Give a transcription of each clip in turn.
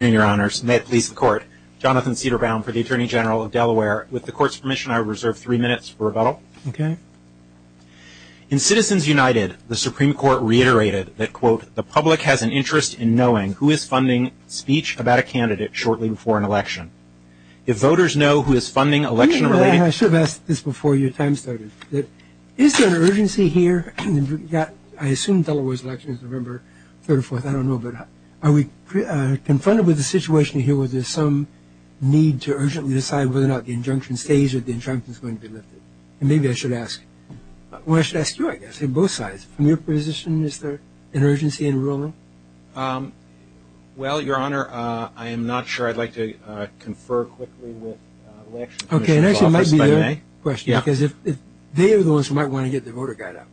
In your honors, may it please the court, Jonathan Cederbaum for the Attorney General of Delaware. With the court's permission, I reserve three minutes for rebuttal. Okay. In Citizens United, the Supreme Court reiterated that, quote, the public has an interest in knowing who is funding speech about a candidate shortly before an election. If voters know who is funding election-related- I should have asked this before your time started. Is there an urgency here that, I assume Delaware's election is November 34th, I don't know, but are we confronted with a situation here where there's some need to urgently decide whether or not the injunction stays or the injunction is going to be lifted? And maybe I should ask- well, I should ask you, I guess, on both sides. From your position, is there an urgency in ruling? Well, your honor, I am not sure. I'd like to confer quickly with the Election Commission's office. Okay, and actually, it might be a good question, because they are the ones who might want to get the voter guide out.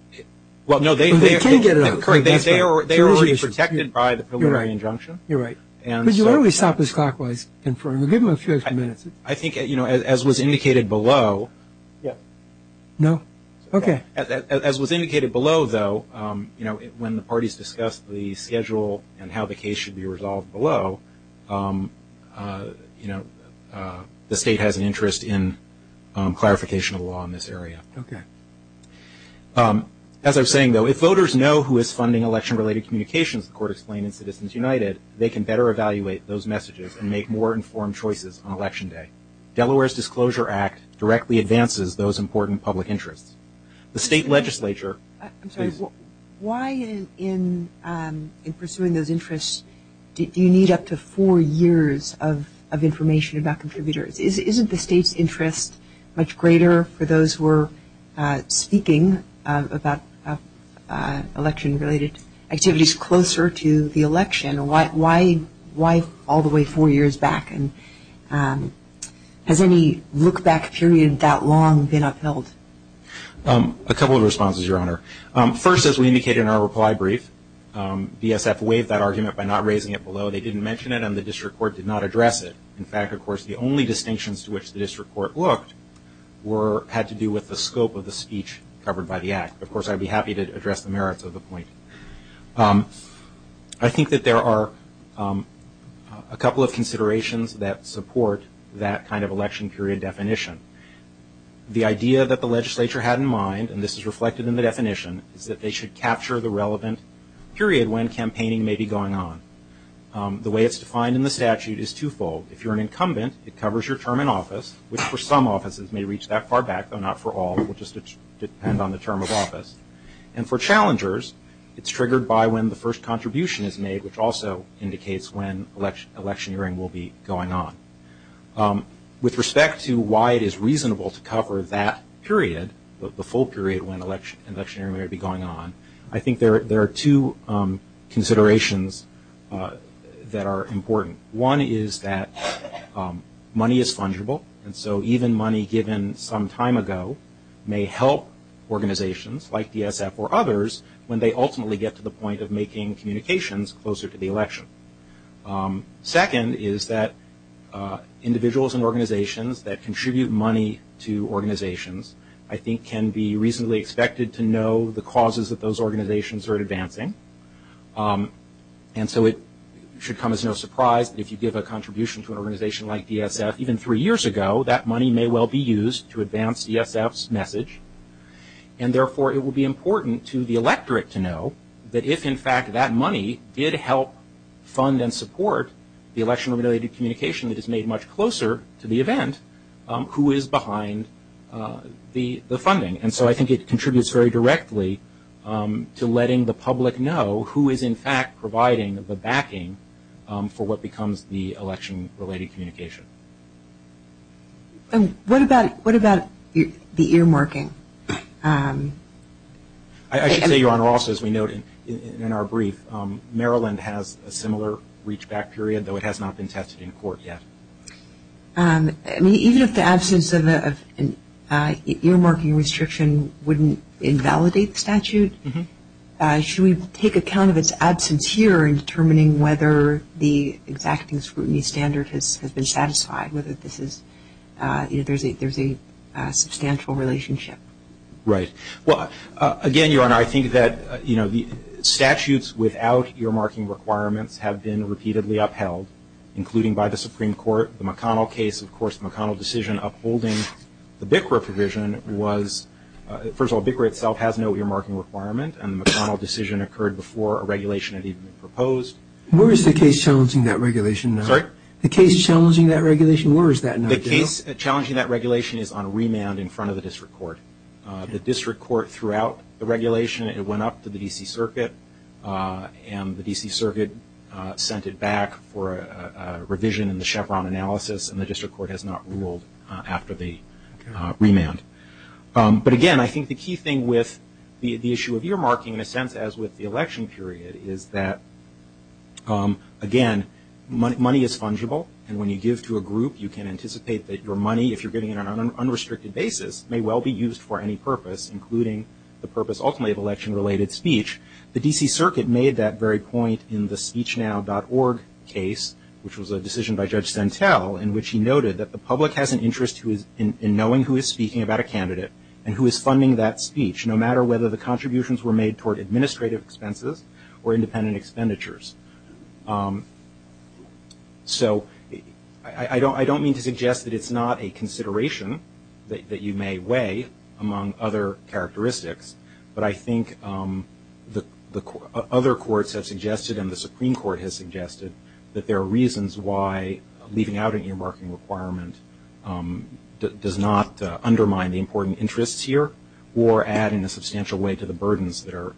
Well, no, they can get it out. They are already protected by the preliminary injunction. You're right. Would you really stop this clockwise and give them a few minutes? I think, you know, as was indicated below- Yeah. No? Okay. As was indicated below, though, you know, when the parties discussed the schedule and how the case should be resolved below, you know, the state has an interest in clarification of law in this area. Okay. As I was saying, though, if voters know who is funding election-related communications, the court explained in Citizens United, they can better evaluate those messages and make more informed choices on Election Day. Delaware's Disclosure Act directly advances those important public interests. The state legislature- I'm sorry, why in pursuing those interests do you need up to four years of information about contributors? Isn't the state's interest much greater for those who are speaking about election-related activities closer to the election? Why all the way four years back? And has any look-back period that long been upheld? A couple of responses, Your Honor. First, as we indicated in our reply brief, BSF waived that argument by not raising it below. They didn't mention it, and the district court did not address it. In fact, of course, the only distinctions to which the district court looked had to do with the scope of the speech covered by the Act. Of course, I'd be happy to address the merits of the point. I think that there are a couple of considerations that support that kind of election period definition. The idea that the legislature had in mind, and this is reflected in the definition, is that they should capture the relevant period when campaigning may be going on. The way it's defined in the statute is two-fold. If you're an incumbent, it covers your term in office, which for some offices may reach that far back, though not for all. It will just depend on the term of office. And for challengers, it's triggered by when the first contribution is made, which also indicates when electioneering will be going on. With respect to why it is reasonable to cover that period, the full period when electioneering may be going on, I think there are two considerations that are important. One is that money is fungible, and so even money given some time ago may help organizations, like DSF or others, when they ultimately get to the point of making communications closer to the election. Second is that individuals and organizations that contribute money to organizations, I think can be reasonably expected to know the causes that those organizations are advancing. And so it should come as no surprise that if you give a contribution to an organization like DSF, even three years ago, that money may well be used to advance DSF's message. And therefore, it will be important to the electorate to know that if, in fact, that money did help fund and support the election-related communication that is made much closer to the event, who is behind the funding. And so I think it contributes very directly to letting the public know who is, in fact, providing the backing for what becomes the election-related communication. And what about the earmarking? I should say, Your Honor, also, as we noted in our brief, Maryland has a similar reachback period, though it has not been tested in court yet. Even if the absence of an earmarking restriction wouldn't invalidate the statute, should we take account of its absence here in determining whether the exacting scrutiny standard has been satisfied, whether there's a substantial relationship? Right. Well, again, Your Honor, I think that statutes without earmarking requirements have been repeatedly upheld, including by the Supreme Court. The McConnell case, of course, the McConnell decision upholding the BICRA provision, was, first of all, BICRA itself has no earmarking requirement, and the McConnell decision occurred before a regulation had even been proposed. Where is the case challenging that regulation now? The case challenging that regulation is on remand in front of the district court. The district court throughout the regulation, it went up to the D.C. Circuit, and the D.C. Circuit sent it back for a revision in the Chevron analysis, and the district court has not ruled after the remand. But again, I think the key thing with the issue of earmarking, in a sense, as with the election period, is that, again, money is fungible, and when you give to a group, you can anticipate that your money, if you're giving it on an unrestricted basis, may well be used for any purpose, including the purpose, ultimately, of election-related speech. The D.C. Circuit made that very point in the SpeechNow.org case, which was a decision by Judge Sentell, in which he noted that the public has an interest in knowing who is speaking about a candidate and who is funding that speech, no matter whether the contributions were made toward administrative expenses or independent expenditures. So I don't mean to suggest that it's not a consideration that you may weigh, among other characteristics, but I think the other courts have suggested, and the Supreme Court has suggested, that there are reasons why leaving out an earmarking requirement does not undermine the important interests here, or add in a substantial way to the burdens that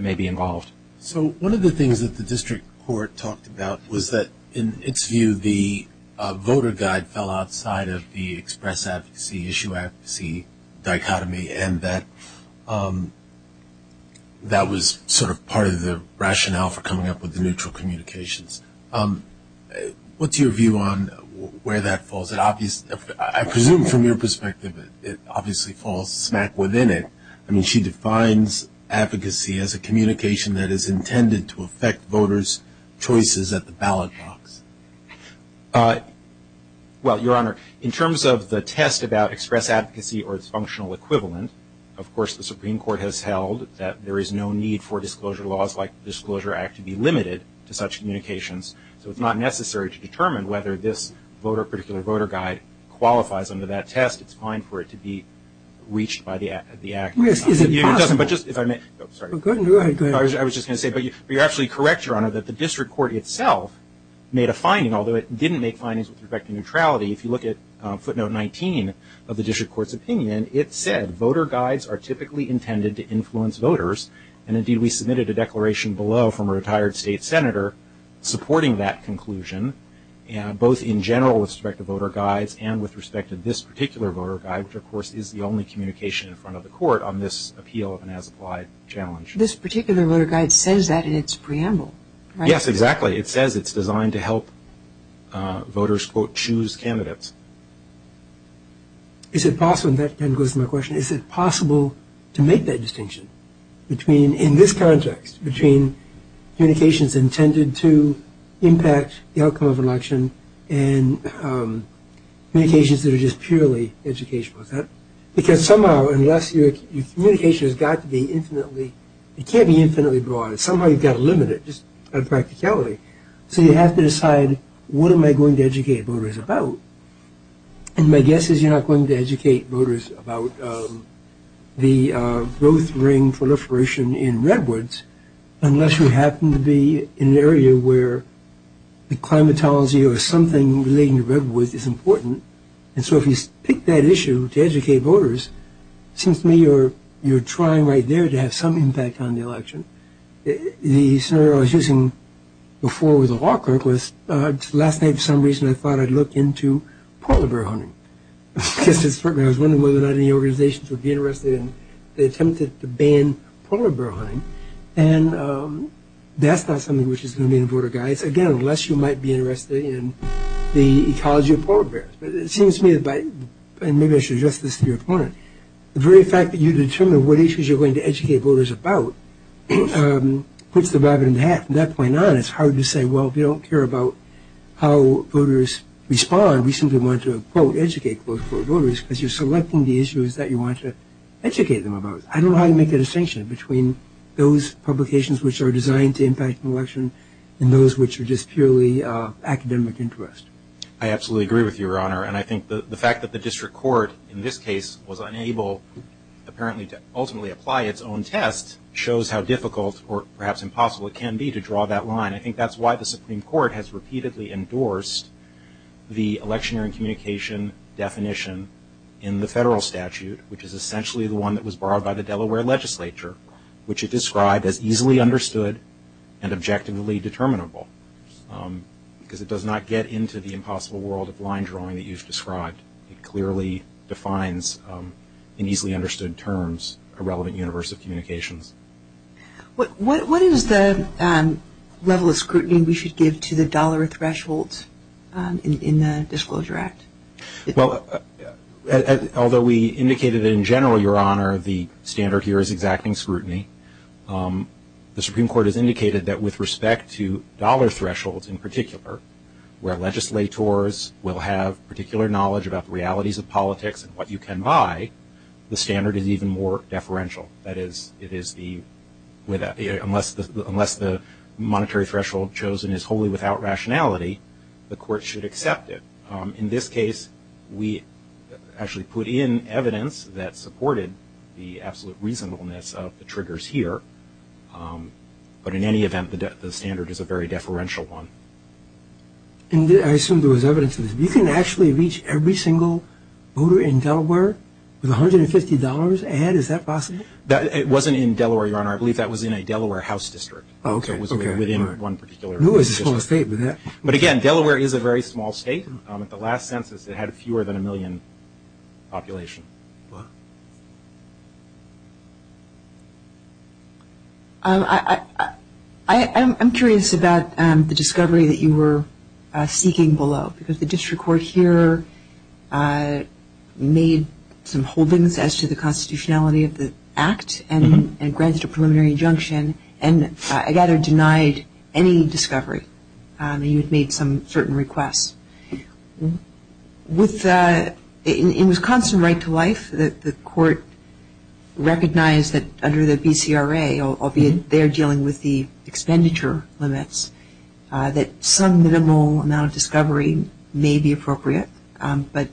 may be involved. So one of the things that the district court talked about was that, in its view, the voter guide fell outside of the express advocacy, issue advocacy dichotomy, and that that was sort of part of the rationale for coming up with the neutral communications. What's your view on where that falls? I presume, from your perspective, it obviously falls smack within it. I mean, she defines advocacy as a communication that is intended to affect voters' choices at the ballot box. Well, Your Honor, in terms of the test about express advocacy or its functional equivalent, of course the Supreme Court has held that there is no need for disclosure laws like the Disclosure Act to be limited to such communications. So it's not necessary to determine whether this particular voter guide qualifies under that test. It's fine for it to be reached by the Act. I was just going to say, but you're actually correct, Your Honor, that the district court itself made a finding, although it didn't make findings with respect to neutrality. If you look at footnote 19 of the district court's opinion, it said voter guides are typically intended to influence voters, and indeed we submitted a declaration below from a retired state senator supporting that conclusion, both in general with respect to voter guides and with respect to this particular voter guide, which of course is the only communication in front of the court on this appeal of an as-applied challenge. This particular voter guide says that in its preamble, right? Yes, exactly. It says it's designed to help voters, quote, choose candidates. Is it possible, and that kind of goes to my question, is it possible to make that distinction between, in this context, between communications intended to impact the outcome of an election and communications that are just purely educational? Because somehow, unless your communication has got to be infinitely, it can't be infinitely broad. Somehow you've got to limit it just by practicality. So you have to decide, what am I going to educate voters about? And my guess is you're not going to educate voters about the growth ring proliferation in Redwoods unless you happen to be in an area where the climatology or something relating to Redwoods is important. And so if you pick that issue to educate voters, it seems to me you're trying right there to have some impact on the election. The scenario I was using before with the law clerk was last night for some reason I thought I'd look into polar bear hunting. I was wondering whether or not any organizations would be interested in the attempt to ban polar bear hunting. And that's not something which is going to be in the voter guide, again, unless you might be interested in the ecology of polar bears. But it seems to me, and maybe I should address this to your opponent, the very fact that you determine what issues you're going to educate voters about puts the rabbit in the hat. From that point on, it's hard to say, well, if you don't care about how voters respond, we simply want to, quote, educate, quote, unquote, voters because you're selecting the issues that you want to educate them about. I don't know how to make a distinction between those publications which are designed to impact the election and those which are just purely academic interest. I absolutely agree with you, Your Honor, and I think the fact that the district court in this case was unable, apparently, to ultimately apply its own test shows how difficult or perhaps impossible it can be to draw that line. I think that's why the Supreme Court has repeatedly endorsed the electioneering communication definition in the federal statute, which is essentially the one that was borrowed by the Delaware legislature, which it described as easily understood and objectively determinable because it does not get into the impossible world of line drawing that you've described. It clearly defines in easily understood terms a relevant universe of communications. What is the level of scrutiny we should give to the dollar threshold in the Disclosure Act? Well, although we indicated in general, Your Honor, the standard here is exacting scrutiny, the Supreme Court has indicated that with respect to dollar thresholds in particular where legislators will have particular knowledge about the realities of politics and what you can buy, the standard is even more deferential. That is, unless the monetary threshold chosen is wholly without rationality, the court should accept it. In this case, we actually put in evidence that supported the absolute reasonableness of the triggers here, but in any event, the standard is a very deferential one. And I assume there was evidence of this. You can actually reach every single voter in Delaware with $150 ahead? Is that possible? It wasn't in Delaware, Your Honor. I believe that was in a Delaware house district. Oh, okay. It was within one particular house district. But again, Delaware is a very small state. At the last census, it had fewer than a million population. I'm curious about the discovery that you were seeking below, because the district court here made some holdings as to the constitutionality of the act and granted a preliminary injunction, and I gather denied any discovery. You had made some certain requests. In Wisconsin Right to Life, the court recognized that under the BCRA, albeit they're dealing with the expenditure limits, that some minimal amount of discovery may be appropriate, but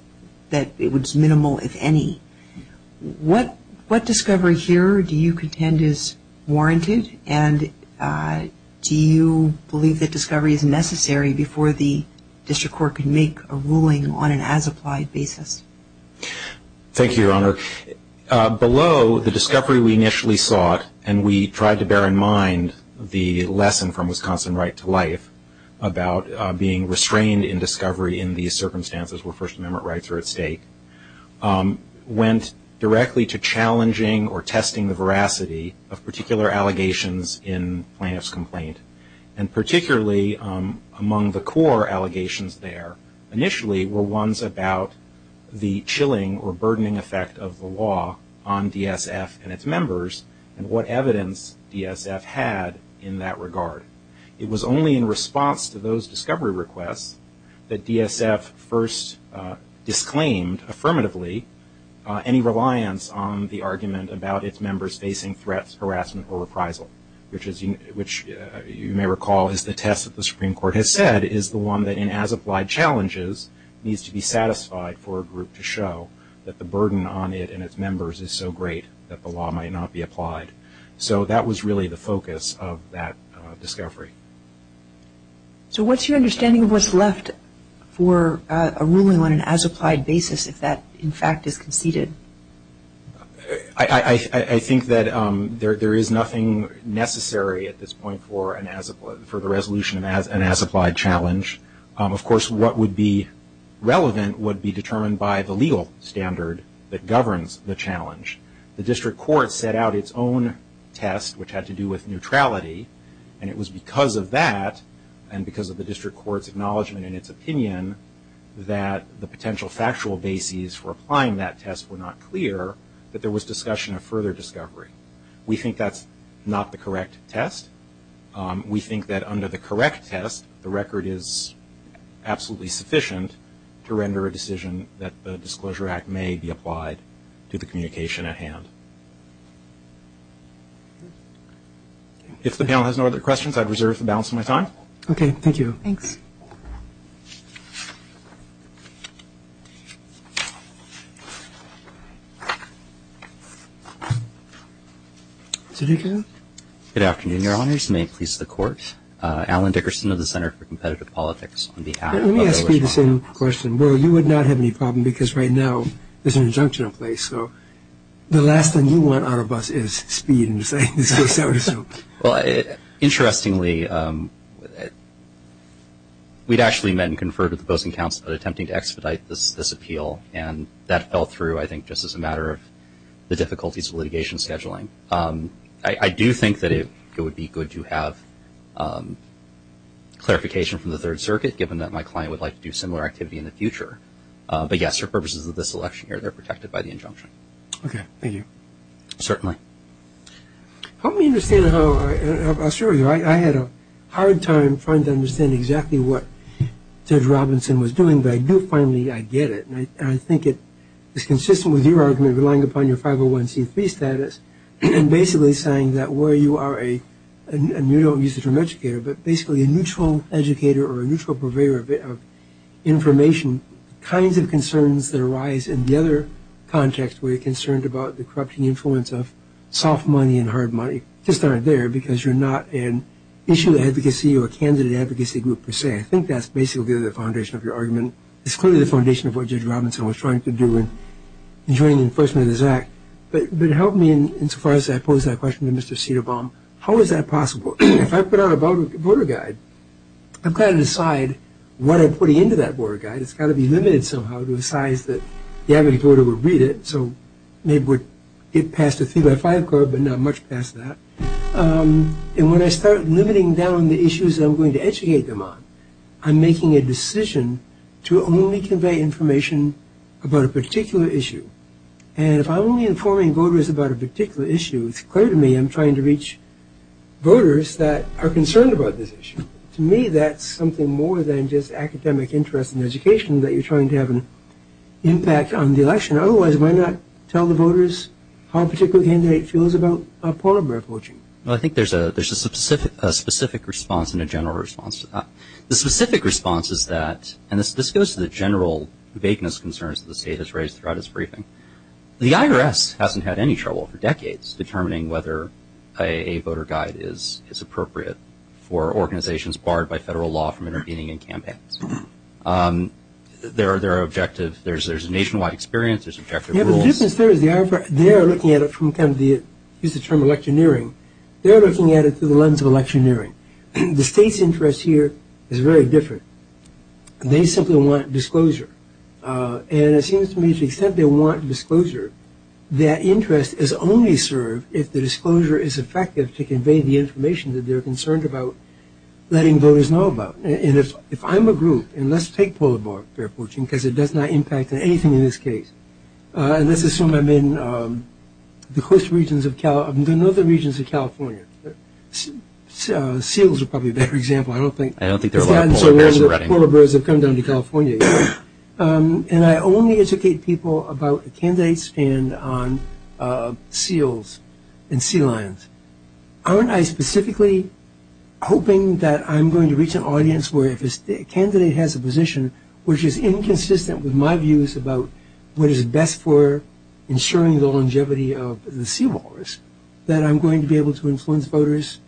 that it was minimal, if any. What discovery here do you contend is warranted, and do you believe that discovery is necessary before the district court can make a ruling on an as-applied basis? Thank you, Your Honor. Below, the discovery we initially sought, and we tried to bear in mind the lesson from Wisconsin Right to Life about being restrained in discovery in these circumstances where First Amendment rights are at stake, went directly to challenging or testing the veracity of particular allegations in plaintiff's complaint, and particularly among the core allegations there initially were ones about the chilling or burdening effect of the law on DSF and its members, and what evidence DSF had in that regard. It was only in response to those discovery requests that DSF first disclaimed affirmatively any reliance on the argument about its members facing threats, harassment, or reprisal, which you may recall is the test that the Supreme Court has said is the one that in as-applied challenges needs to be satisfied for a group to show that the burden on it and its members is so great that the law might not be applied. So that was really the focus of that discovery. So what's your understanding of what's left for a ruling on an as-applied basis if that in fact is conceded? I think that there is nothing necessary at this point for the resolution of an as-applied challenge. Of course what would be relevant would be determined by the legal standard that governs the challenge. The District Court set out its own test which had to do with neutrality, and it was because of that and because of the District Court's acknowledgement in its opinion that the potential factual bases for applying that test were not clear that there was discussion of further discovery. We think that's not the correct test. We think that under the correct test, the record is absolutely sufficient to render a decision that the Disclosure Act may be applied to the communication at hand. If the panel has no other questions, I'd reserve the balance of my time. Okay, thank you. Good afternoon, Your Honors. May it please the Court. Alan Dickerson of the Center for Competitive Politics. Let me ask you the same question. Well, you would not have any problem because right now there's an injunction in place, so the last thing you want out of us is speed in this case, so to speak. we're in the middle of a process of we'd actually met and conferred with the Posting Council about attempting to expedite this appeal, and that fell through, I think, just as a matter of the difficulties of litigation scheduling. I do think that it would be good to have clarification from the Third Circuit, given that my client would like to do similar activity in the future. But yes, for purposes of this election year, they're protected by the injunction. Okay, thank you. Certainly. Help me understand how, I'll assure you, I had a hard time trying to understand exactly what Ted Robinson was doing, but I do finally, I get it, and I think it is consistent with your argument relying upon your 501c3 status and basically saying that where you are a, and you don't use the term educator, but basically a neutral educator or a neutral purveyor of information, kinds of concerns that arise in the other context where you're concerned about the corrupting influence of soft money and hard money just aren't there because you're not an issue advocacy or candidate advocacy group per se. I think that's basically the foundation of your argument. It's clearly the foundation of what Judge Robinson was trying to do in joining the enforcement of this Act. But help me insofar as I pose that question to Mr. Cedarbaum, how is that possible? If I put out a voter guide, I've got to decide what I'm putting into that voter guide. It's got to be limited somehow to a size that the average voter would read it, so maybe it would get past a three by five card, but not much past that. And when I start limiting down the issues I'm going to educate them on, I'm making a decision to only convey information about a particular issue. And if I'm only informing voters about a particular issue, it's clear to me I'm trying to reach voters that are concerned about this issue. To me, that's something more than just academic interest and education that you're trying to have I think there's a specific response and a general response to that. The specific response is that, and this goes to the general vagueness concerns the state has raised throughout its briefing, the IRS hasn't had any trouble for decades determining whether a voter guide is appropriate for organizations barred by federal law from intervening in campaigns. There are objective, there's a nationwide experience, there's objective rules. Yeah, the difference there is the IRS, they are looking at it from kind of the, use the term electioneering, they're looking at it through the lens of electioneering. The state's interest here is very different. They simply want disclosure. And it seems to me to the extent they want disclosure their interest is only served if the disclosure is effective to convey the information that they're concerned about letting voters know about. And if I'm a group, and let's take polar bear poaching because it does not impact anything in this case, and let's assume I'm in the coast regions of California, I don't know the regions of California. Seals are probably a better example, I don't think. I don't think there are a lot of polar bears in Redding. The polar bears have come down to California. And I only educate people about the candidates and on seals and sea lions. Aren't I specifically hoping that I'm going to reach an audience where if a candidate has a my views about what is best for ensuring the longevity of the sea walrus, that I'm going to be able to influence voters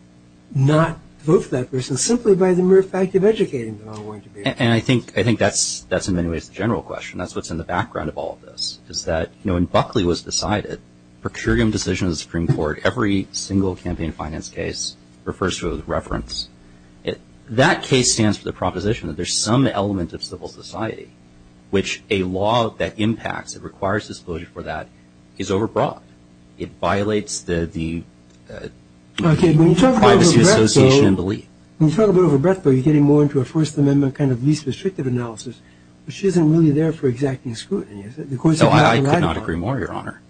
not vote for that person simply by the mere fact of educating them. And I think that's in many ways the general question. That's what's in the background of all of this. Is that when Buckley was decided, procurium decisions of the Supreme Court, every single campaign finance case refers to a reference. That case stands for the proposition that there's some element of civil society, which a law that impacts and requires disclosure for that is over broad. It violates the privacy association and belief. You're getting more into a First Amendment kind of least restrictive analysis, which isn't really there for exacting scrutiny. I could not agree more, Your Honor.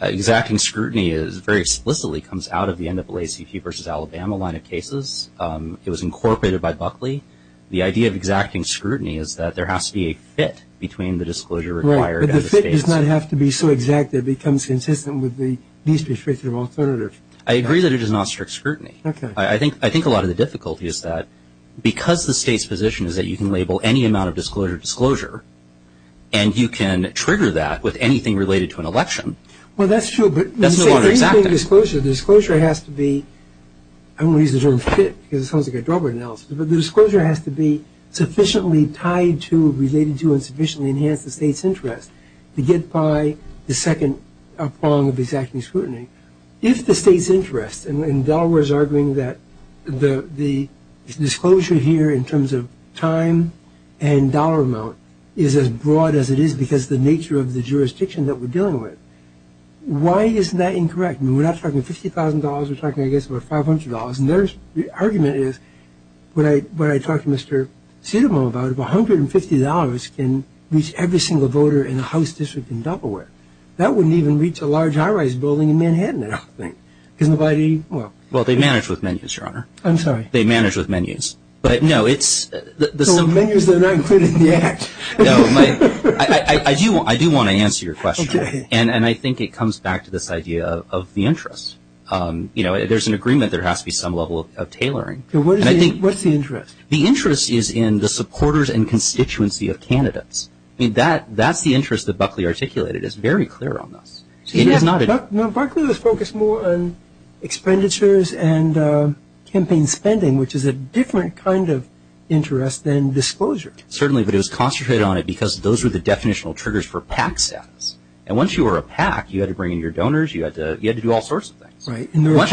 Exacting scrutiny very explicitly comes out of the NAACP versus Alabama line of cases. It was incorporated by Buckley. The idea of exacting scrutiny is that there has to be a fit between the disclosure required and the state's. Right, but the fit does not have to be so exact that it becomes consistent with the least restrictive alternative. I agree that it is not strict scrutiny. I think a lot of the difficulty is that because the state's position is that you can label any amount of disclosure, disclosure, and you can trigger that with anything related to an election. Well, that's true, but when you say anything disclosure, disclosure has to be, I don't want to use the term fit because it sounds like a drubber analysis, but the disclosure has to be sufficiently tied to, related to, and sufficiently enhanced the state's interest to get by the second prong of exacting scrutiny. If the state's interest, and Delaware is arguing that the disclosure here in terms of time and dollar amount is as broad as it is because of the nature of the jurisdiction that we're dealing with, why isn't that incorrect? I mean, we're not talking $50,000, we're talking, I guess, about $500, and their argument is, what I talked to Mr. Sidemo about, if $150 can reach every single voter in a house district in Delaware, that wouldn't even reach a large high-rise building in Manhattan, I don't think, because nobody, well. Well, they manage with menus, Your Honor. I'm sorry. They manage with menus, but no, it's menus that are not included in the Act. No, I do want to answer your question, and I think it comes back to this idea of the interest. You know, there's an agreement there has to be some level of tailoring. What's the interest? The interest is in the supporters and constituency of candidates. I mean, that's the interest that Buckley articulated. It's very clear on this. Buckley was focused more on expenditures and campaign spending, which is a different kind of interest than disclosure. Certainly, but it was concentrated on it because those were the definitional triggers for PAC status. And once you were a PAC, you had to bring in your donors, you had to do all sorts of things. Right, and there were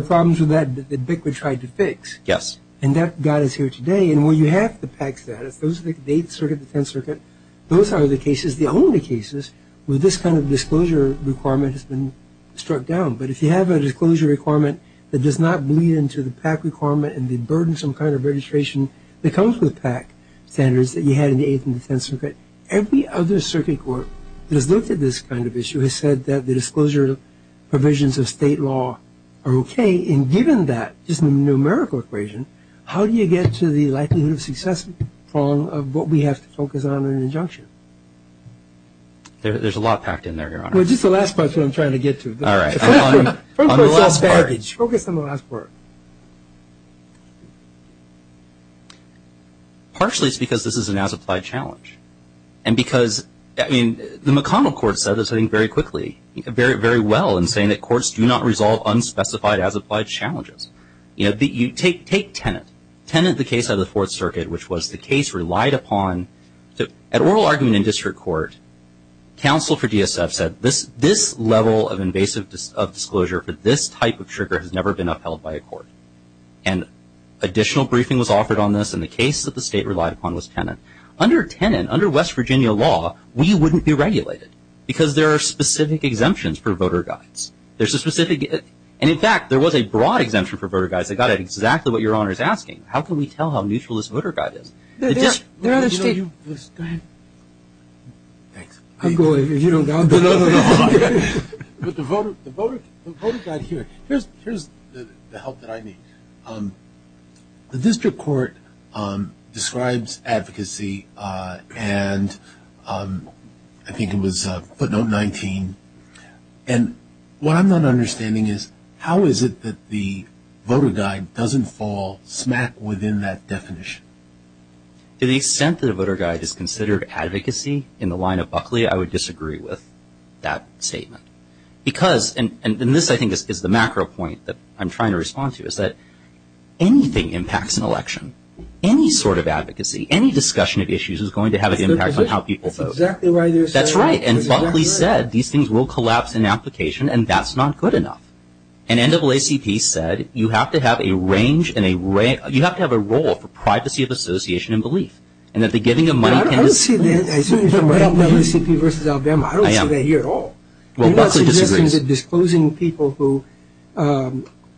problems with that that Buckley tried to fix. Yes. And that got us here today. And when you have the PAC status, those are the Eighth Circuit, the Tenth Circuit, those are the cases, the only cases, where this kind of disclosure requirement has been struck down. But if you have a disclosure requirement that does not bleed into the PAC requirement and the burdensome kind of registration that comes with PAC standards that you had in the Eighth and the Tenth Circuit, every other case of this kind of issue has said that the disclosure provisions of state law are okay. And given that, just the numerical equation, how do you get to the likelihood of success of what we have to focus on in an injunction? There's a lot packed in there, Your Honor. Well, just the last part is what I'm trying to get to. All right. On the last part. Focus on the last part. Partially, it's because this is an as-applied challenge. And because the McConnell Court said this, I think, very quickly, very well in saying that courts do not resolve unspecified as-applied challenges. Take Tennant. Tennant, the case out of the Fourth Circuit, which was the case relied upon. At oral argument in district court, counsel for DSF said, this level of invasive disclosure for this type of trigger has never been upheld by a court. And additional briefing was offered on this, and the case that the state relied upon was Tennant. Under Tennant, under West Virginia law, we wouldn't be regulated because there are specific exemptions for voter guides. And in fact, there was a broad exemption for voter guides that got at exactly what Your Honor is asking. How can we tell how neutral this voter guide is? Go ahead. The voter guide here, here's the help that I need. The district court describes advocacy and I think it was footnote 19, and what I'm not understanding is, how is it that the voter guide doesn't fall smack within that definition? To the extent that a voter guide is considered advocacy in the line of Buckley, I would disagree with that statement. Because, and this, I think, is the macro point that I'm trying to respond to, is that anything impacts an election, any sort of advocacy, any discussion of issues is going to have an impact on how people vote. That's exactly right. That's right. And Buckley said, these things will collapse in application, and that's not good enough. And NAACP said, you have to have a range, you have to have a role for privacy of association and belief. And that the giving of money can I don't see that. I see it from NAACP versus Alabama. I don't see that here at all. Well, Buckley disagrees. Disclosing people who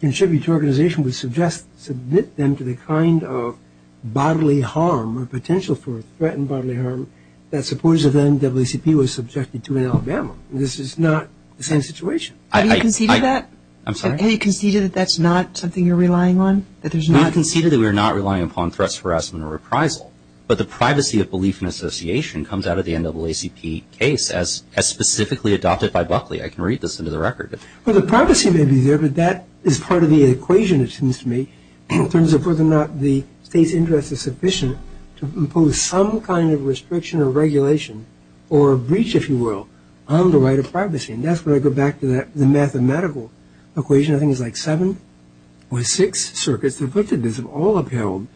contribute to an organization would submit them to the kind of bodily harm or potential for threatened bodily harm that supporters of NAACP were subjected to in Alabama. This is not the same situation. Have you conceded that? I'm sorry? Have you conceded that that's not something you're relying on? We have conceded that we are not relying upon threats of harassment or reprisal. But the privacy of belief and association comes out of the NAACP case as specifically adopted by Buckley. I can read this into the record. Well, the privacy may be there, but that is part of the equation, it seems to me, in terms of whether or not the state's interest is sufficient to impose some kind of restriction or regulation or breach, if you will, on the right of privacy. And that's where I go back to the mathematical equation. I think it's like seven or six circuits that have looked at this have all upheld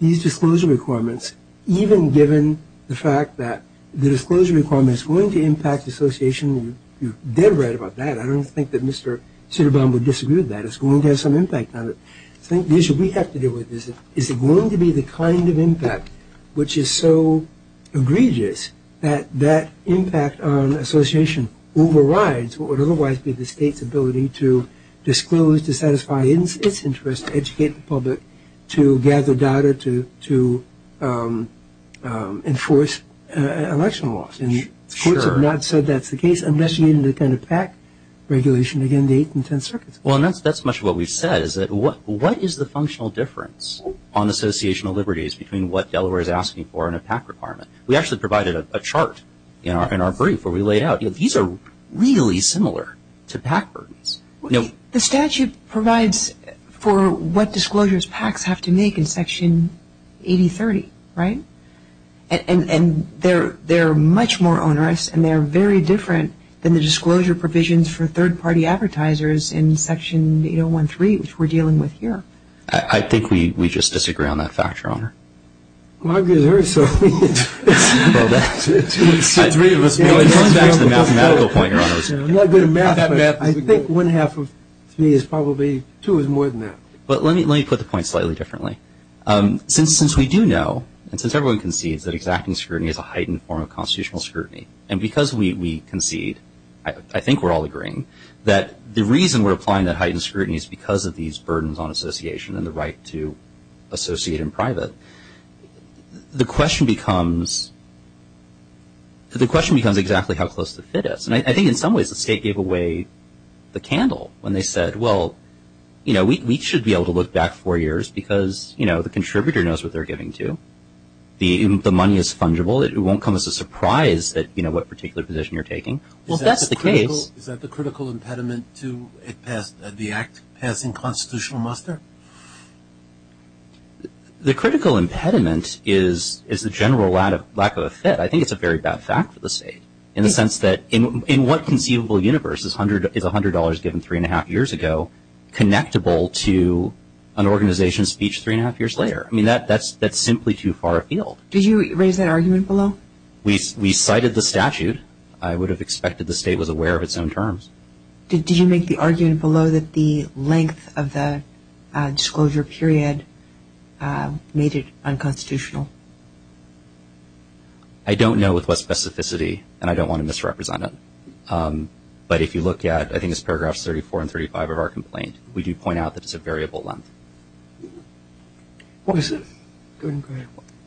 these disclosure requirements, even given the fact that the disclosure requirement is going to impact association. You're dead right about that. I don't think that Mr. Sitterbaum would disagree with that. It's going to have some impact on it. I think the issue we have to deal with is is it going to be the kind of impact which is so egregious that that impact on association overrides what would otherwise be the state's ability to disclose, to satisfy its interest, to educate the public, to gather data, to enforce election laws. And courts have not said that's the case, unless you mean the kind of PAC regulation, again, the eight and ten circuits. Well, that's much of what we've said, is that what is the functional difference on associational liberties between what Delaware is asking for and a PAC requirement? We actually provided a chart in our brief where we laid out, these are really similar to PAC burdens. The statute provides for what disclosures PACs have to make in Section 8030, right? And they're much more onerous, and they're very different than the disclosure provisions for third-party advertisers in Section 8013, which we're dealing with here. I think we just disagree on that factor, Honor. Well, I'm going to be very sorry. Well, that's the mathematical point, Honor. I'm not good at math, but I think one-half of three is probably two is more than that. But let me put the point slightly differently. Since we do know, and since everyone concedes that exacting scrutiny is a heightened form of constitutional scrutiny, and because we concede I think we're all agreeing, that the reason we're applying that heightened scrutiny is because of these burdens on association and the right to associate in private, the question becomes the question becomes exactly how close the fit is. And I think in some ways the state gave away the candle when they said, well, you know, we should be able to look back four years because, you know, the contributor knows what they're giving to. The money is fungible. It won't come as a surprise that, you know, what particular position you're taking. Well, that's the case. Is that the critical impediment to the act passing constitutional muster? The critical impediment is the general lack of a fit. I think it's a very bad fact for the state in the sense that in what conceivable universe is $100 given three-and-a-half years ago connectable to an organization's speech three-and-a-half years later? I mean, that's simply too far afield. Did you raise that argument below? We cited the statute. I would have expected the state was aware of its own terms. Did you make the argument below that the length of the disclosure period made it unconstitutional? I don't know with what specificity, and I don't want to misrepresent it, but if you look at I think it's paragraphs 34 and 35 of our complaint, we do point out that it's a variable length.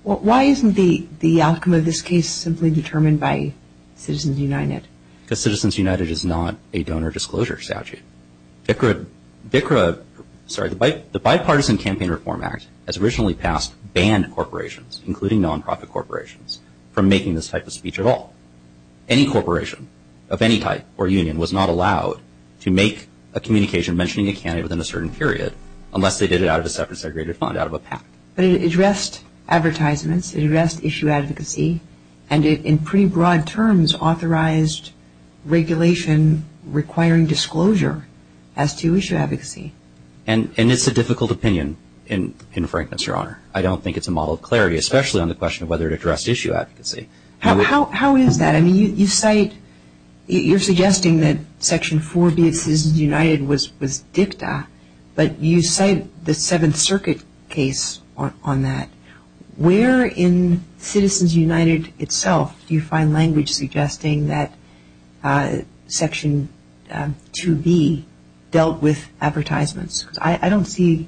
Why isn't the outcome of this case simply determined by Citizens United? Because Citizens United is not a donor disclosure statute. The Bipartisan Campaign Reform Act has originally passed banned corporations, including non-profit corporations, from making this type of speech at all. Any corporation of any type or union was not allowed to make a communication mentioning a candidate within a certain period unless they did it out of a separate, segregated fund, out of a PAC. But it addressed advertisements. It addressed issue advocacy. And it, in pretty broad terms, authorized regulation requiring disclosure as to issue advocacy. And it's a difficult opinion, in frankness, Your Honor. I don't think it's a model of clarity, especially on the question of whether it addressed issue advocacy. How is that? I mean, you cite, you're suggesting that Section 4B of Citizens United was dicta, but you cite the Seventh Circuit case on that. Where in Citizens United itself do you find language suggesting that Section 2B dealt with advertisements? Because I don't see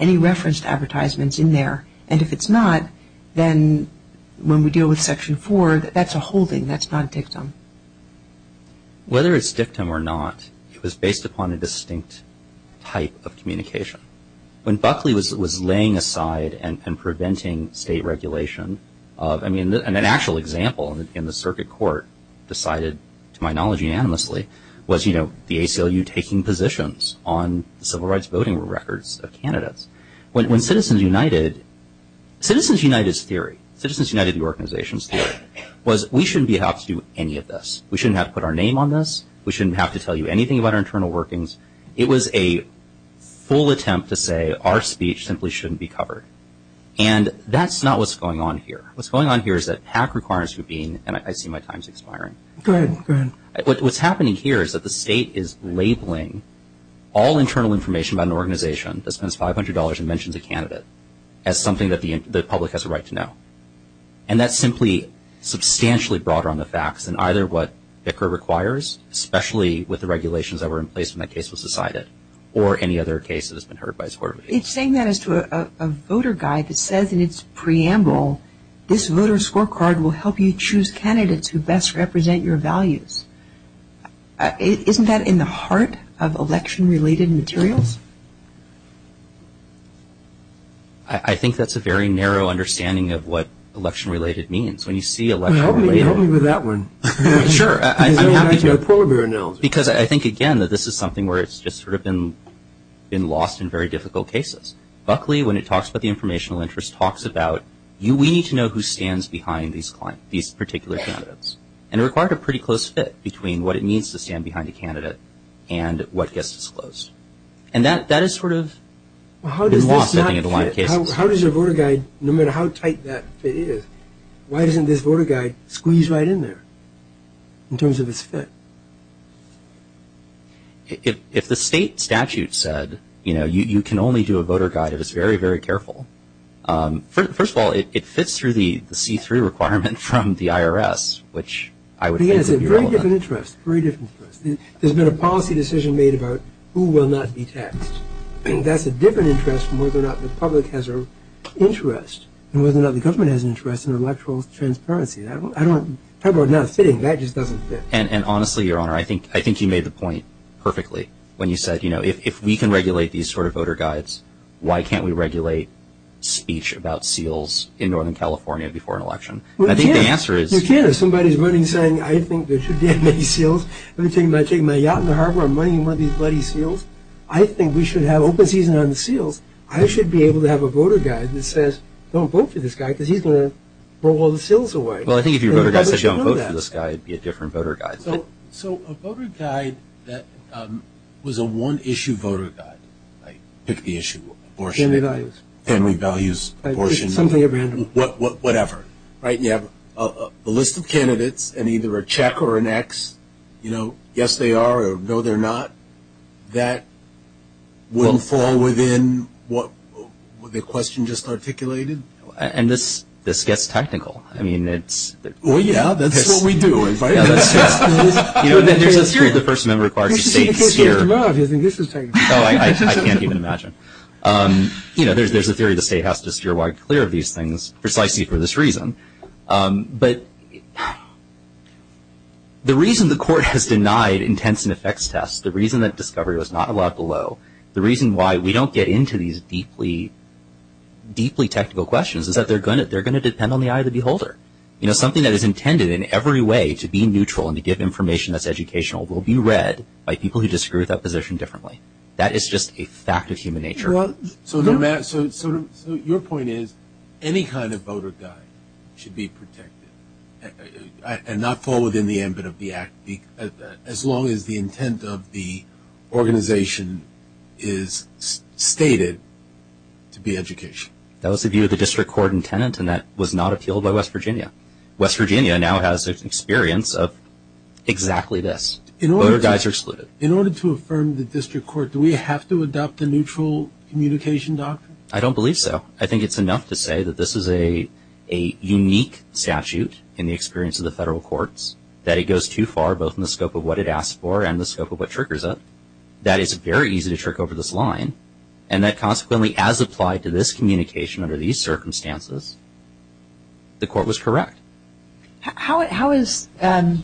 any referenced advertisements in there. And if it's not, then when we deal with Section 4, that's a holding. That's not dictum. Whether it's dictum or not, it was based upon a distinct type of communication. When Buckley was laying aside and preventing state regulation of, I mean, an actual example in the circuit court decided, to my knowledge, unanimously, was, you know, the ACLU taking positions on the civil rights voting records of candidates. When Citizens United, Citizens United's theory, Citizens United, the organization's theory, was we shouldn't be allowed to do any of this. We shouldn't have to put our name on this. We shouldn't have to tell you anything about our internal workings. It was a full attempt to say our speech simply shouldn't be covered. And that's not what's going on here. What's going on here is that PAC requires you to be, and I see my time's expiring. What's happening here is that the state is labeling all internal information about an organization that spends $500 and mentions a candidate as something that the public has a right to know. And that's simply substantially broader on the facts than either what Bicker requires, especially with the regulations that were in place when that case was decided, or any other case that has been heard by this court. It's saying that as to a voter guide that says in its preamble, this voter scorecard will help you choose candidates who best represent your values. Isn't that in the heart of election-related materials? I think that's a very narrow understanding of what election-related means. When you see election-related... Well, help me with that one. Sure. I'm happy to. Because I think, again, that this is something where it's just sort of been lost in very difficult cases. Buckley, when it talks about the informational interest, talks about we need to know who stands behind these particular candidates. And it required a pretty close fit between what it means to stand behind a candidate and what gets disclosed. And that is sort of been lost, I think, in a lot of cases. How does a voter guide, no matter how tight that fit is, why doesn't this voter guide squeeze right in there, in terms of its fit? If the state statute said, you know, you can only do a voter guide if it's very, very careful. First of all, it fits through the see-through requirement from the IRS, which I would think would be relevant. There's been a policy decision made about who will not be taxed. That's a different interest from whether or not the public has an interest and whether or not the government has an interest in electoral transparency. How about not fitting? That just doesn't fit. And honestly, Your Honor, I think you made the point perfectly when you said, you know, if we can regulate these sort of voter guides, why can't we regulate speech about seals in Northern California before an election? Well, you can't. You can't. If somebody's running saying, I think there should be many seals. I'm not talking about taking my yacht in the harbor and moneying one of these bloody seals. I think we should have open season on the seals. I should be able to have a voter guide that says, don't vote for this guy because he's going to throw all the seals away. Well, I think if your voter guide said, don't vote for this guy, it would be a different voter guide. So a voter guide that was a one-issue voter guide, like pick the issue, abortion. Family values. Family values, abortion. Something at random. Whatever, right? You have a list of candidates and either a check or an X. You know, yes, they are or no, they're not. That wouldn't fall within what the question just articulated? And this gets technical. I mean, it's – Well, yeah, that's what we do. You know, there's a theory the First Amendment requires the state to steer. Oh, I can't even imagine. You know, there's a theory the state has to steer wide clear of these things, precisely for this reason. But the reason the court has denied intense and effects tests, the reason that discovery was not allowed below, the reason why we don't get into these deeply, deeply technical questions, is that they're going to depend on the eye of the beholder. You know, something that is intended in every way to be neutral and to give information that's educational will be read by people who disagree with that position differently. That is just a fact of human nature. So your point is any kind of voter guide should be protected and not fall within the ambit of the act, as long as the intent of the organization is stated to be education. That was the view of the district court and tenant, and that was not appealed by West Virginia. West Virginia now has experience of exactly this. Voter guides are excluded. In order to affirm the district court, do we have to adopt a neutral communication doctrine? I don't believe so. I think it's enough to say that this is a unique statute in the experience of the federal courts, that it goes too far both in the scope of what it asks for and the scope of what triggers it, that it's very easy to trick over this line, and that consequently as applied to this communication under these circumstances, the court was correct. How is the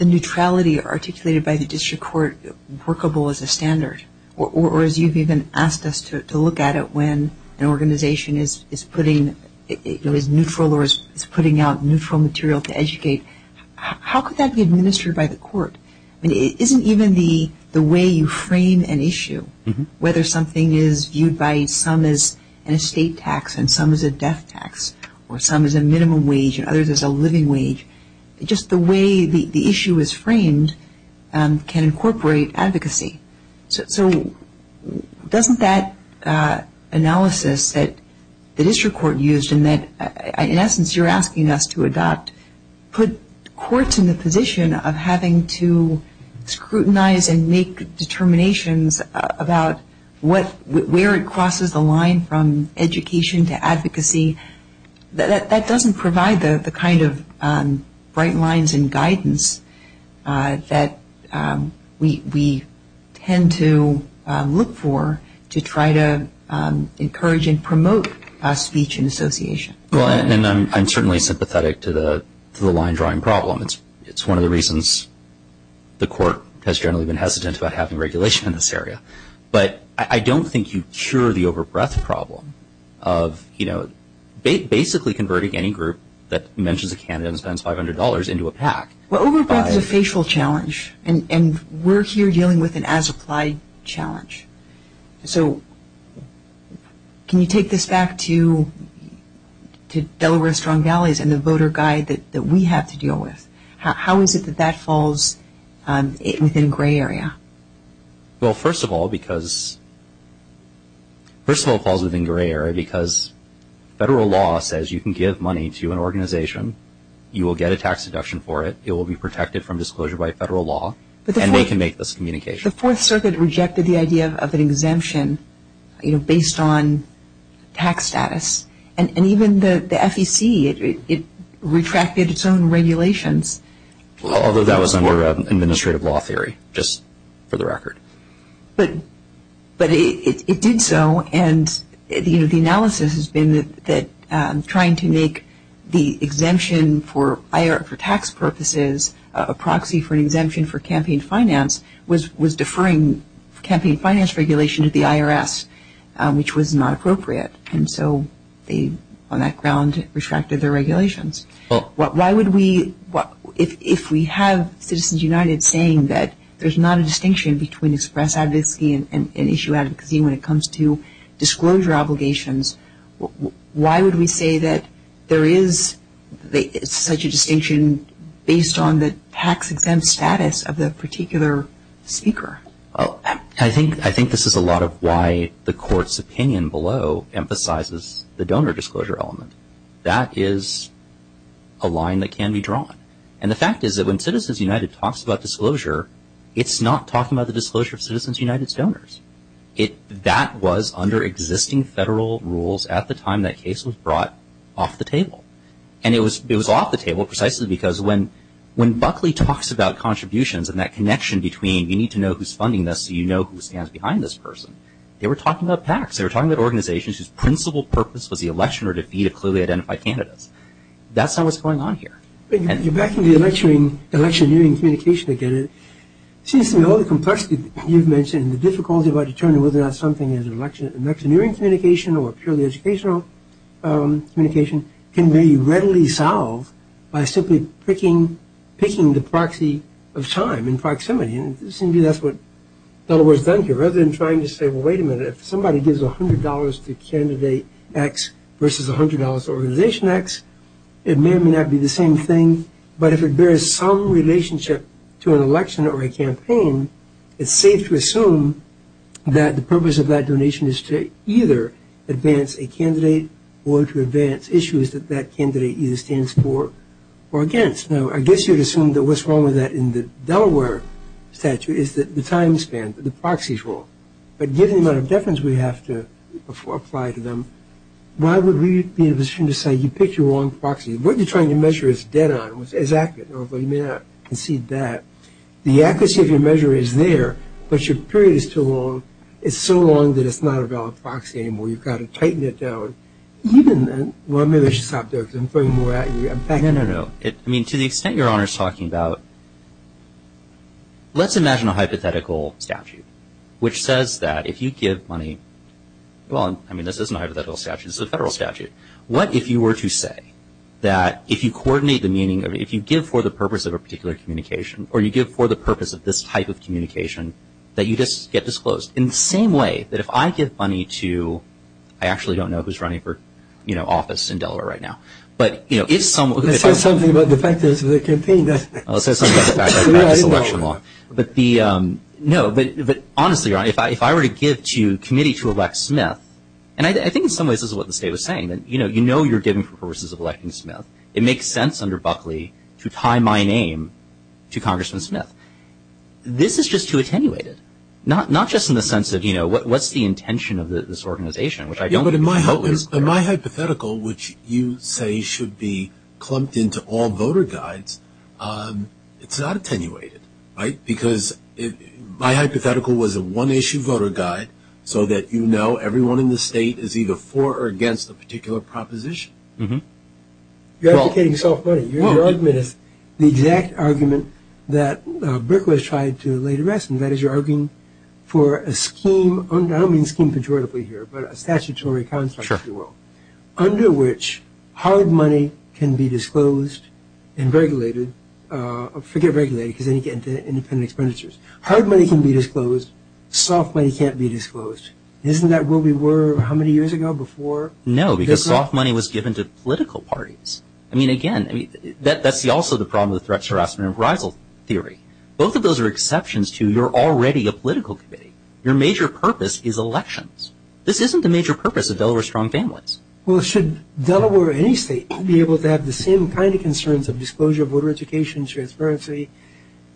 neutrality articulated by the district court workable as a standard? Or as you've even asked us to look at it, when an organization is putting out neutral material to educate, how could that be administered by the court? I mean, isn't even the way you frame an issue, whether something is viewed by some as an estate tax and some as a death tax or some as a minimum wage and others as a living wage, just the way the issue is framed can incorporate advocacy. So doesn't that analysis that the district court used and that in essence you're asking us to adopt put courts in the position of having to scrutinize and make determinations about where it crosses the line from education to advocacy? That doesn't provide the kind of bright lines and guidance that we tend to look for to try to encourage and promote speech and association. Well, and I'm certainly sympathetic to the line drawing problem. It's one of the reasons the court has generally been hesitant about having regulation in this area. But I don't think you cure the over-breath problem of, you know, basically converting any group that mentions a candidate and spends $500 into a PAC. Well, over-breath is a facial challenge, and we're here dealing with an as-applied challenge. So can you take this back to Delaware Strong Valleys and the voter guide that we have to deal with? How is it that that falls within gray area? Well, first of all, it falls within gray area because federal law says you can give money to an organization, you will get a tax deduction for it, it will be protected from disclosure by federal law, and they can make this communication. The Fourth Circuit rejected the idea of an exemption, you know, based on tax status. And even the FEC, it retracted its own regulations. Although that was under administrative law theory, just for the record. But it did so, and the analysis has been that trying to make the exemption for tax purposes a proxy for an exemption for campaign finance was deferring campaign finance regulation to the IRS, which was not appropriate. And so they, on that ground, retracted their regulations. Why would we, if we have Citizens United saying that there's not a distinction between express advocacy and issue advocacy when it comes to disclosure obligations, why would we say that there is such a distinction based on the tax exempt status of the particular speaker? I think this is a lot of why the Court's opinion below emphasizes the donor disclosure element. That is a line that can be drawn. And the fact is that when Citizens United talks about disclosure, it's not talking about the disclosure of Citizens United's donors. That was under existing federal rules at the time that case was brought off the table. And it was off the table precisely because when Buckley talks about contributions and that connection between you need to know who's funding this so you know who stands behind this person, they were talking about PACs. They were talking about organizations whose principal purpose was the election or defeat of clearly identified candidates. That's not what's going on here. You're backing the electioneering communication again. It seems to me all the complexity you've mentioned and the difficulty about determining whether or not something is an electioneering communication or purely educational communication can be readily solved by simply picking the proxy of time and proximity. It seems to me that's what Delaware's done here. Rather than trying to say, well, wait a minute, if somebody gives $100 to candidate X versus $100 to organization X, it may or may not be the same thing. But if it bears some relationship to an election or a campaign, it's safe to assume that the purpose of that donation is to either advance a candidate or to advance issues that that candidate either stands for or against. Now, I guess you'd assume that what's wrong with that in the Delaware statute is that the time span, the proxies rule. But given the amount of deference we have to apply to them, why would we be in a position to say you picked the wrong proxy? What you're trying to measure is dead on. It's accurate, although you may not concede that. The accuracy of your measure is there, but your period is too long. It's so long that it's not a valid proxy anymore. You've got to tighten it down. Well, maybe I should stop there because I'm throwing more at you. No, no, no. I mean, to the extent Your Honor is talking about, let's imagine a hypothetical statute, which says that if you give money, well, I mean, this is not a hypothetical statute. This is a federal statute. What if you were to say that if you coordinate the meaning of it, if you give for the purpose of a particular communication or you give for the purpose of this type of communication, that you just get disclosed? In the same way that if I give money to, I actually don't know who's running for office in Delaware right now, but if someone were to say something about the fact that it's a campaign, I'll say something about the fact that it's election law. No, but honestly, Your Honor, if I were to give to a committee to elect Smith, and I think in some ways this is what the state was saying, that you know you're giving for purposes of electing Smith. It makes sense under Buckley to tie my name to Congressman Smith. This is just too attenuated, not just in the sense of, you know, what's the intention of this organization, which I don't believe is the purpose. My hypothetical, which you say should be clumped into all voter guides, it's not attenuated, right? Because my hypothetical was a one-issue voter guide so that you know everyone in the state is either for or against a particular proposition. You're advocating soft money. Your argument is the exact argument that Brick was trying to lay to rest, and that is you're arguing for a scheme, I don't mean scheme pejoratively here, but a statutory construct, if you will, under which hard money can be disclosed and regulated. Forget regulated because then you get into independent expenditures. Hard money can be disclosed. Soft money can't be disclosed. Isn't that what we were how many years ago before? No, because soft money was given to political parties. I mean, again, that's also the problem with threats, harassment, and arousal theory. Both of those are exceptions to you're already a political committee. Your major purpose is elections. This isn't the major purpose of Delaware Strong Families. Well, should Delaware or any state be able to have the same kind of concerns of disclosure of voter education, transparency,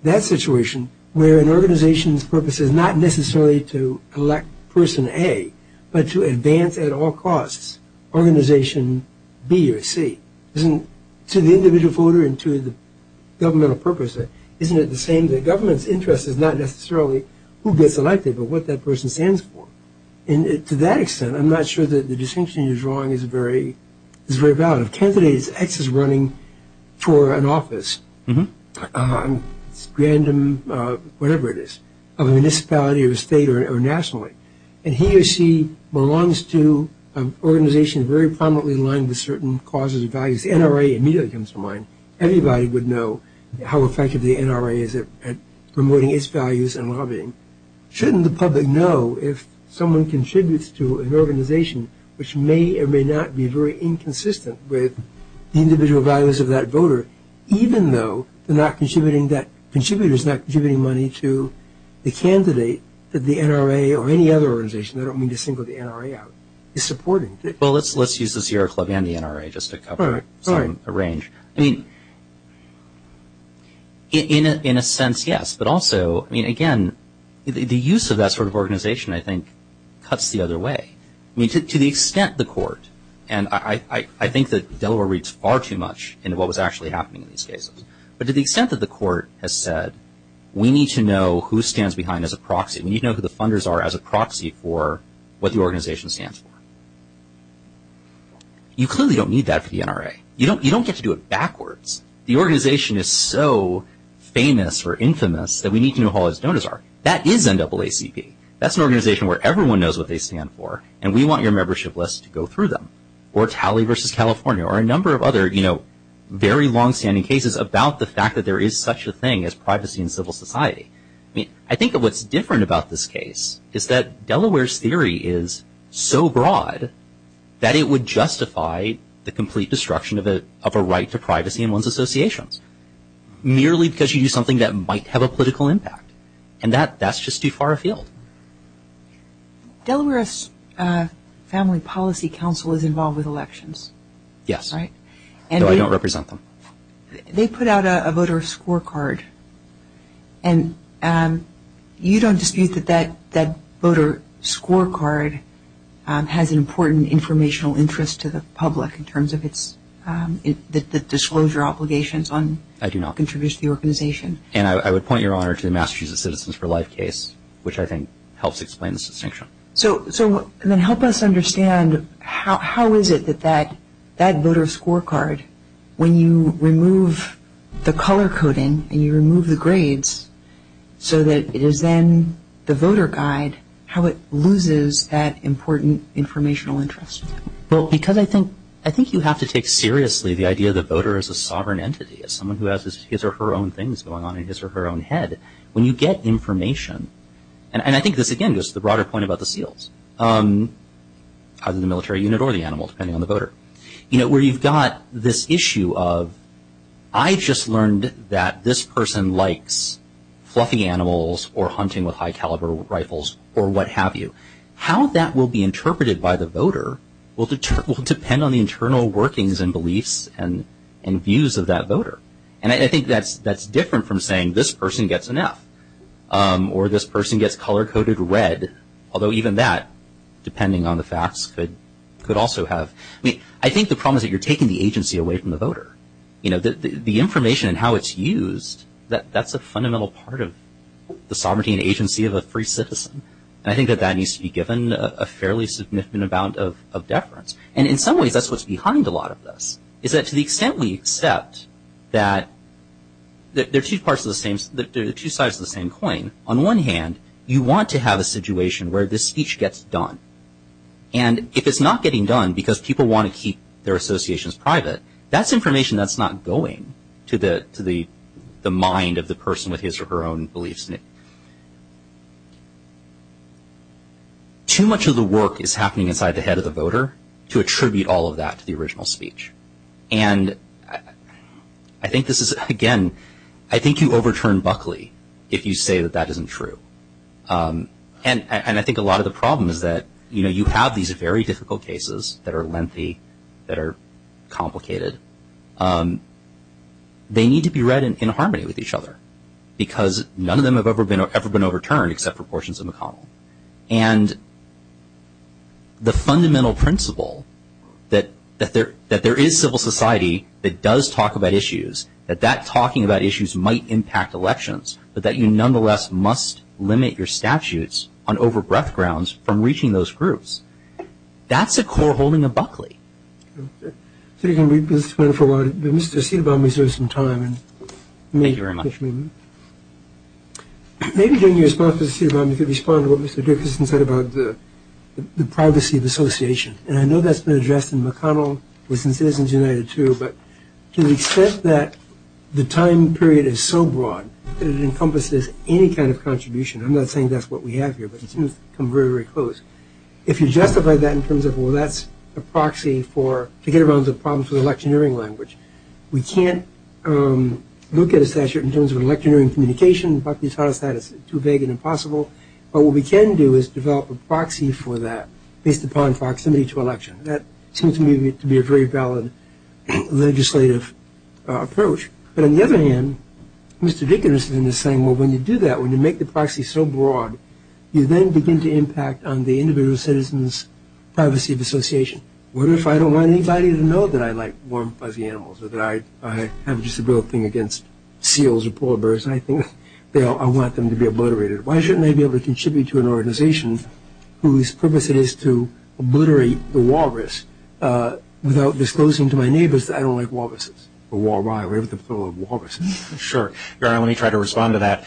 that situation where an organization's purpose is not necessarily to elect person A, but to advance at all costs organization B or C? Isn't to the individual voter and to the governmental purpose, isn't it the same that government's interest is not necessarily who gets elected, but what that person stands for? And to that extent, I'm not sure that the distinction you're drawing is very valid. If a candidate's ex is running for an office, random, whatever it is, a municipality or state or nationally, and he or she belongs to an organization very prominently aligned with certain causes and values, the NRA immediately comes to mind. Everybody would know how effective the NRA is at promoting its values and lobbying. Shouldn't the public know if someone contributes to an organization which may or may not be very inconsistent with the individual values of that voter, even though the contributor is not contributing money to the candidate that the NRA or any other organization, I don't mean to single the NRA out, is supporting? Well, let's use the Sierra Club and the NRA just to cover some range. I mean, in a sense, yes, but also, I mean, again, the use of that sort of organization, I think, cuts the other way. I mean, to the extent the court, and I think that Delaware reads far too much into what was actually happening in these cases, but to the extent that the court has said, we need to know who stands behind as a proxy, we need to know who the funders are as a proxy for what the organization stands for. You clearly don't need that for the NRA. You don't get to do it backwards. The organization is so famous or infamous that we need to know who all its donors are. That is NAACP. That's an organization where everyone knows what they stand for, and we want your membership list to go through them. Or Talley v. California, or a number of other, you know, very longstanding cases about the fact that there is such a thing as privacy in civil society. I mean, I think that what's different about this case is that Delaware's theory is so broad that it would justify the complete destruction of a right to privacy in one's associations, merely because you do something that might have a political impact. And that's just too far afield. Delaware's Family Policy Council is involved with elections. Yes. Right? No, I don't represent them. They put out a voter scorecard. And you don't dispute that that voter scorecard has an important informational interest to the public in terms of its disclosure obligations on contributions to the organization? I do not. And I would point your honor to the Massachusetts Citizens for Life case, which I think helps explain this distinction. So then help us understand, how is it that that voter scorecard, when you remove the color coding and you remove the grades, so that it is then the voter guide, how it loses that important informational interest? Well, because I think you have to take seriously the idea of the voter as a sovereign entity, as someone who has his or her own things going on in his or her own head. When you get information, and I think this again goes to the broader point about the seals, either the military unit or the animal, depending on the voter, where you've got this issue of, I just learned that this person likes fluffy animals or hunting with high caliber rifles or what have you. How that will be interpreted by the voter will depend on the internal workings and beliefs and views of that voter. And I think that's different from saying this person gets an F. Or this person gets color-coded red. Although even that, depending on the facts, could also have. I mean, I think the problem is that you're taking the agency away from the voter. You know, the information and how it's used, that's a fundamental part of the sovereignty and agency of a free citizen. And I think that that needs to be given a fairly significant amount of deference. And in some ways, that's what's behind a lot of this, is that to the extent we accept that they're two sides of the same coin, on one hand, you want to have a situation where this speech gets done. And if it's not getting done because people want to keep their associations private, that's information that's not going to the mind of the person with his or her own beliefs. And too much of the work is happening inside the head of the voter to attribute all of that to the original speech. And I think this is, again, I think you overturn Buckley if you say that that isn't true. And I think a lot of the problem is that, you know, you have these very difficult cases that are lengthy, that are complicated. They need to be read in harmony with each other because none of them have ever been overturned except for portions of McConnell. And the fundamental principle that there is civil society that does talk about issues, that that talking about issues might impact elections, but that you nonetheless must limit your statutes on over breadth grounds from reaching those groups. That's a core holding of Buckley. Okay. So you can read this one for a while. Mr. Siedbaum, you deserve some time. Thank you very much. Maybe during your response to Siedbaum you could respond to what Mr. Dickerson said about the privacy of association. And I know that's been addressed in McConnell, was in Citizens United too, but to the extent that the time period is so broad that it encompasses any kind of contribution, I'm not saying that's what we have here, but it seems to come very, very close. If you justify that in terms of, well, that's a proxy to get around the problems with electioneering language, we can't look at a statute in terms of electioneering communication. Buckley has taught us that. It's too vague and impossible. But what we can do is develop a proxy for that based upon proximity to election. That seems to me to be a very valid legislative approach. But on the other hand, Mr. Dickerson is saying, well, when you do that, when you make the proxy so broad, you then begin to impact on the individual citizen's privacy of association. What if I don't want anybody to know that I like warm, fuzzy animals or that I have a disability against seals or porpoises? I want them to be obliterated. Why shouldn't I be able to contribute to an organization whose purpose is to obliterate the walrus without disclosing to my neighbors that I don't like walruses or walruses? Sure. Let me try to respond to that.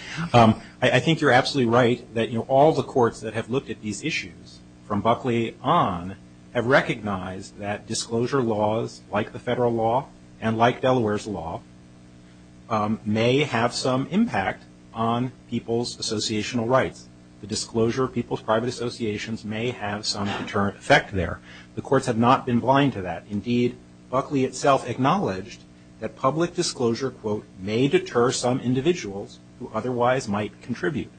I think you're absolutely right that all the courts that have looked at these issues from Buckley on have recognized that disclosure laws, like the federal law and like Delaware's law, may have some impact on people's associational rights. The disclosure of people's private associations may have some deterrent effect there. The courts have not been blind to that. Indeed, Buckley itself acknowledged that public disclosure, quote, may deter some individuals who otherwise might contribute.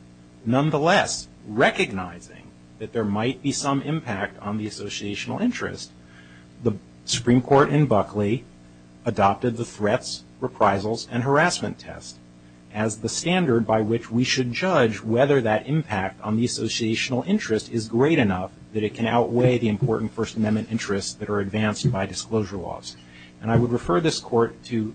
Nonetheless, recognizing that there might be some impact on the associational interest, the Supreme Court in Buckley adopted the threats, reprisals, and harassment test as the standard by which we should judge whether that impact on the associational interest is great enough that it can outweigh the important First Amendment interests that are advanced by disclosure laws. And I would refer this Court to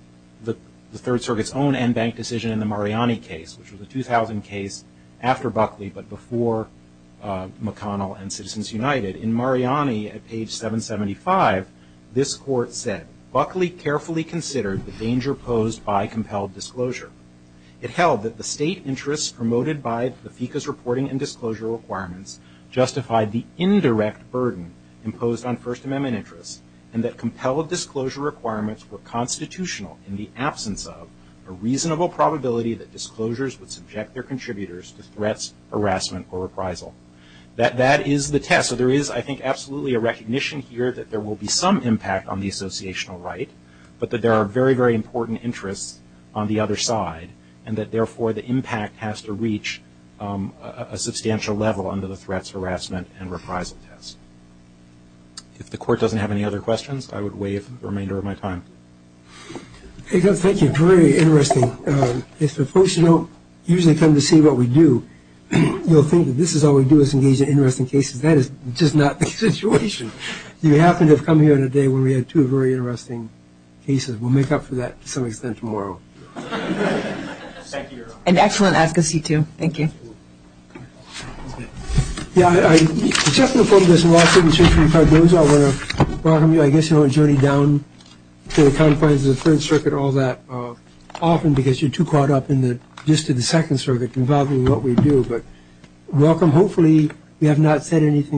the Third Circuit's own en banc decision in the Mariani case, which was a 2000 case after Buckley but before McConnell and Citizens United. In Mariani, at page 775, this Court said, Buckley carefully considered the danger posed by compelled disclosure. It held that the state interests promoted by the FECA's reporting and disclosure requirements justified the indirect burden imposed on First Amendment interests and that compelled disclosure requirements were constitutional in the absence of a reasonable probability that disclosures would subject their contributors to threats, harassment, or reprisal. That is the test. So there is, I think, absolutely a recognition here that there will be some impact on the associational right, but that there are very, very important interests on the other side and that, therefore, the impact has to reach a substantial level under the threats, harassment, and reprisal test. If the Court doesn't have any other questions, I would waive the remainder of my time. Thank you. Very interesting. If folks don't usually come to see what we do, you'll think that this is all we do is engage in interesting cases. That is just not the situation. You happen to have come here on a day when we had two very interesting cases. We'll make up for that to some extent tomorrow. Thank you, Your Honor. An excellent advocacy, too. Thank you. Yeah, I just want to welcome you. I guess you don't journey down to the confines of the Third Circuit all that often because you're too caught up in the gist of the Second Circuit involving what we do. But welcome. Hopefully, we have not said anything.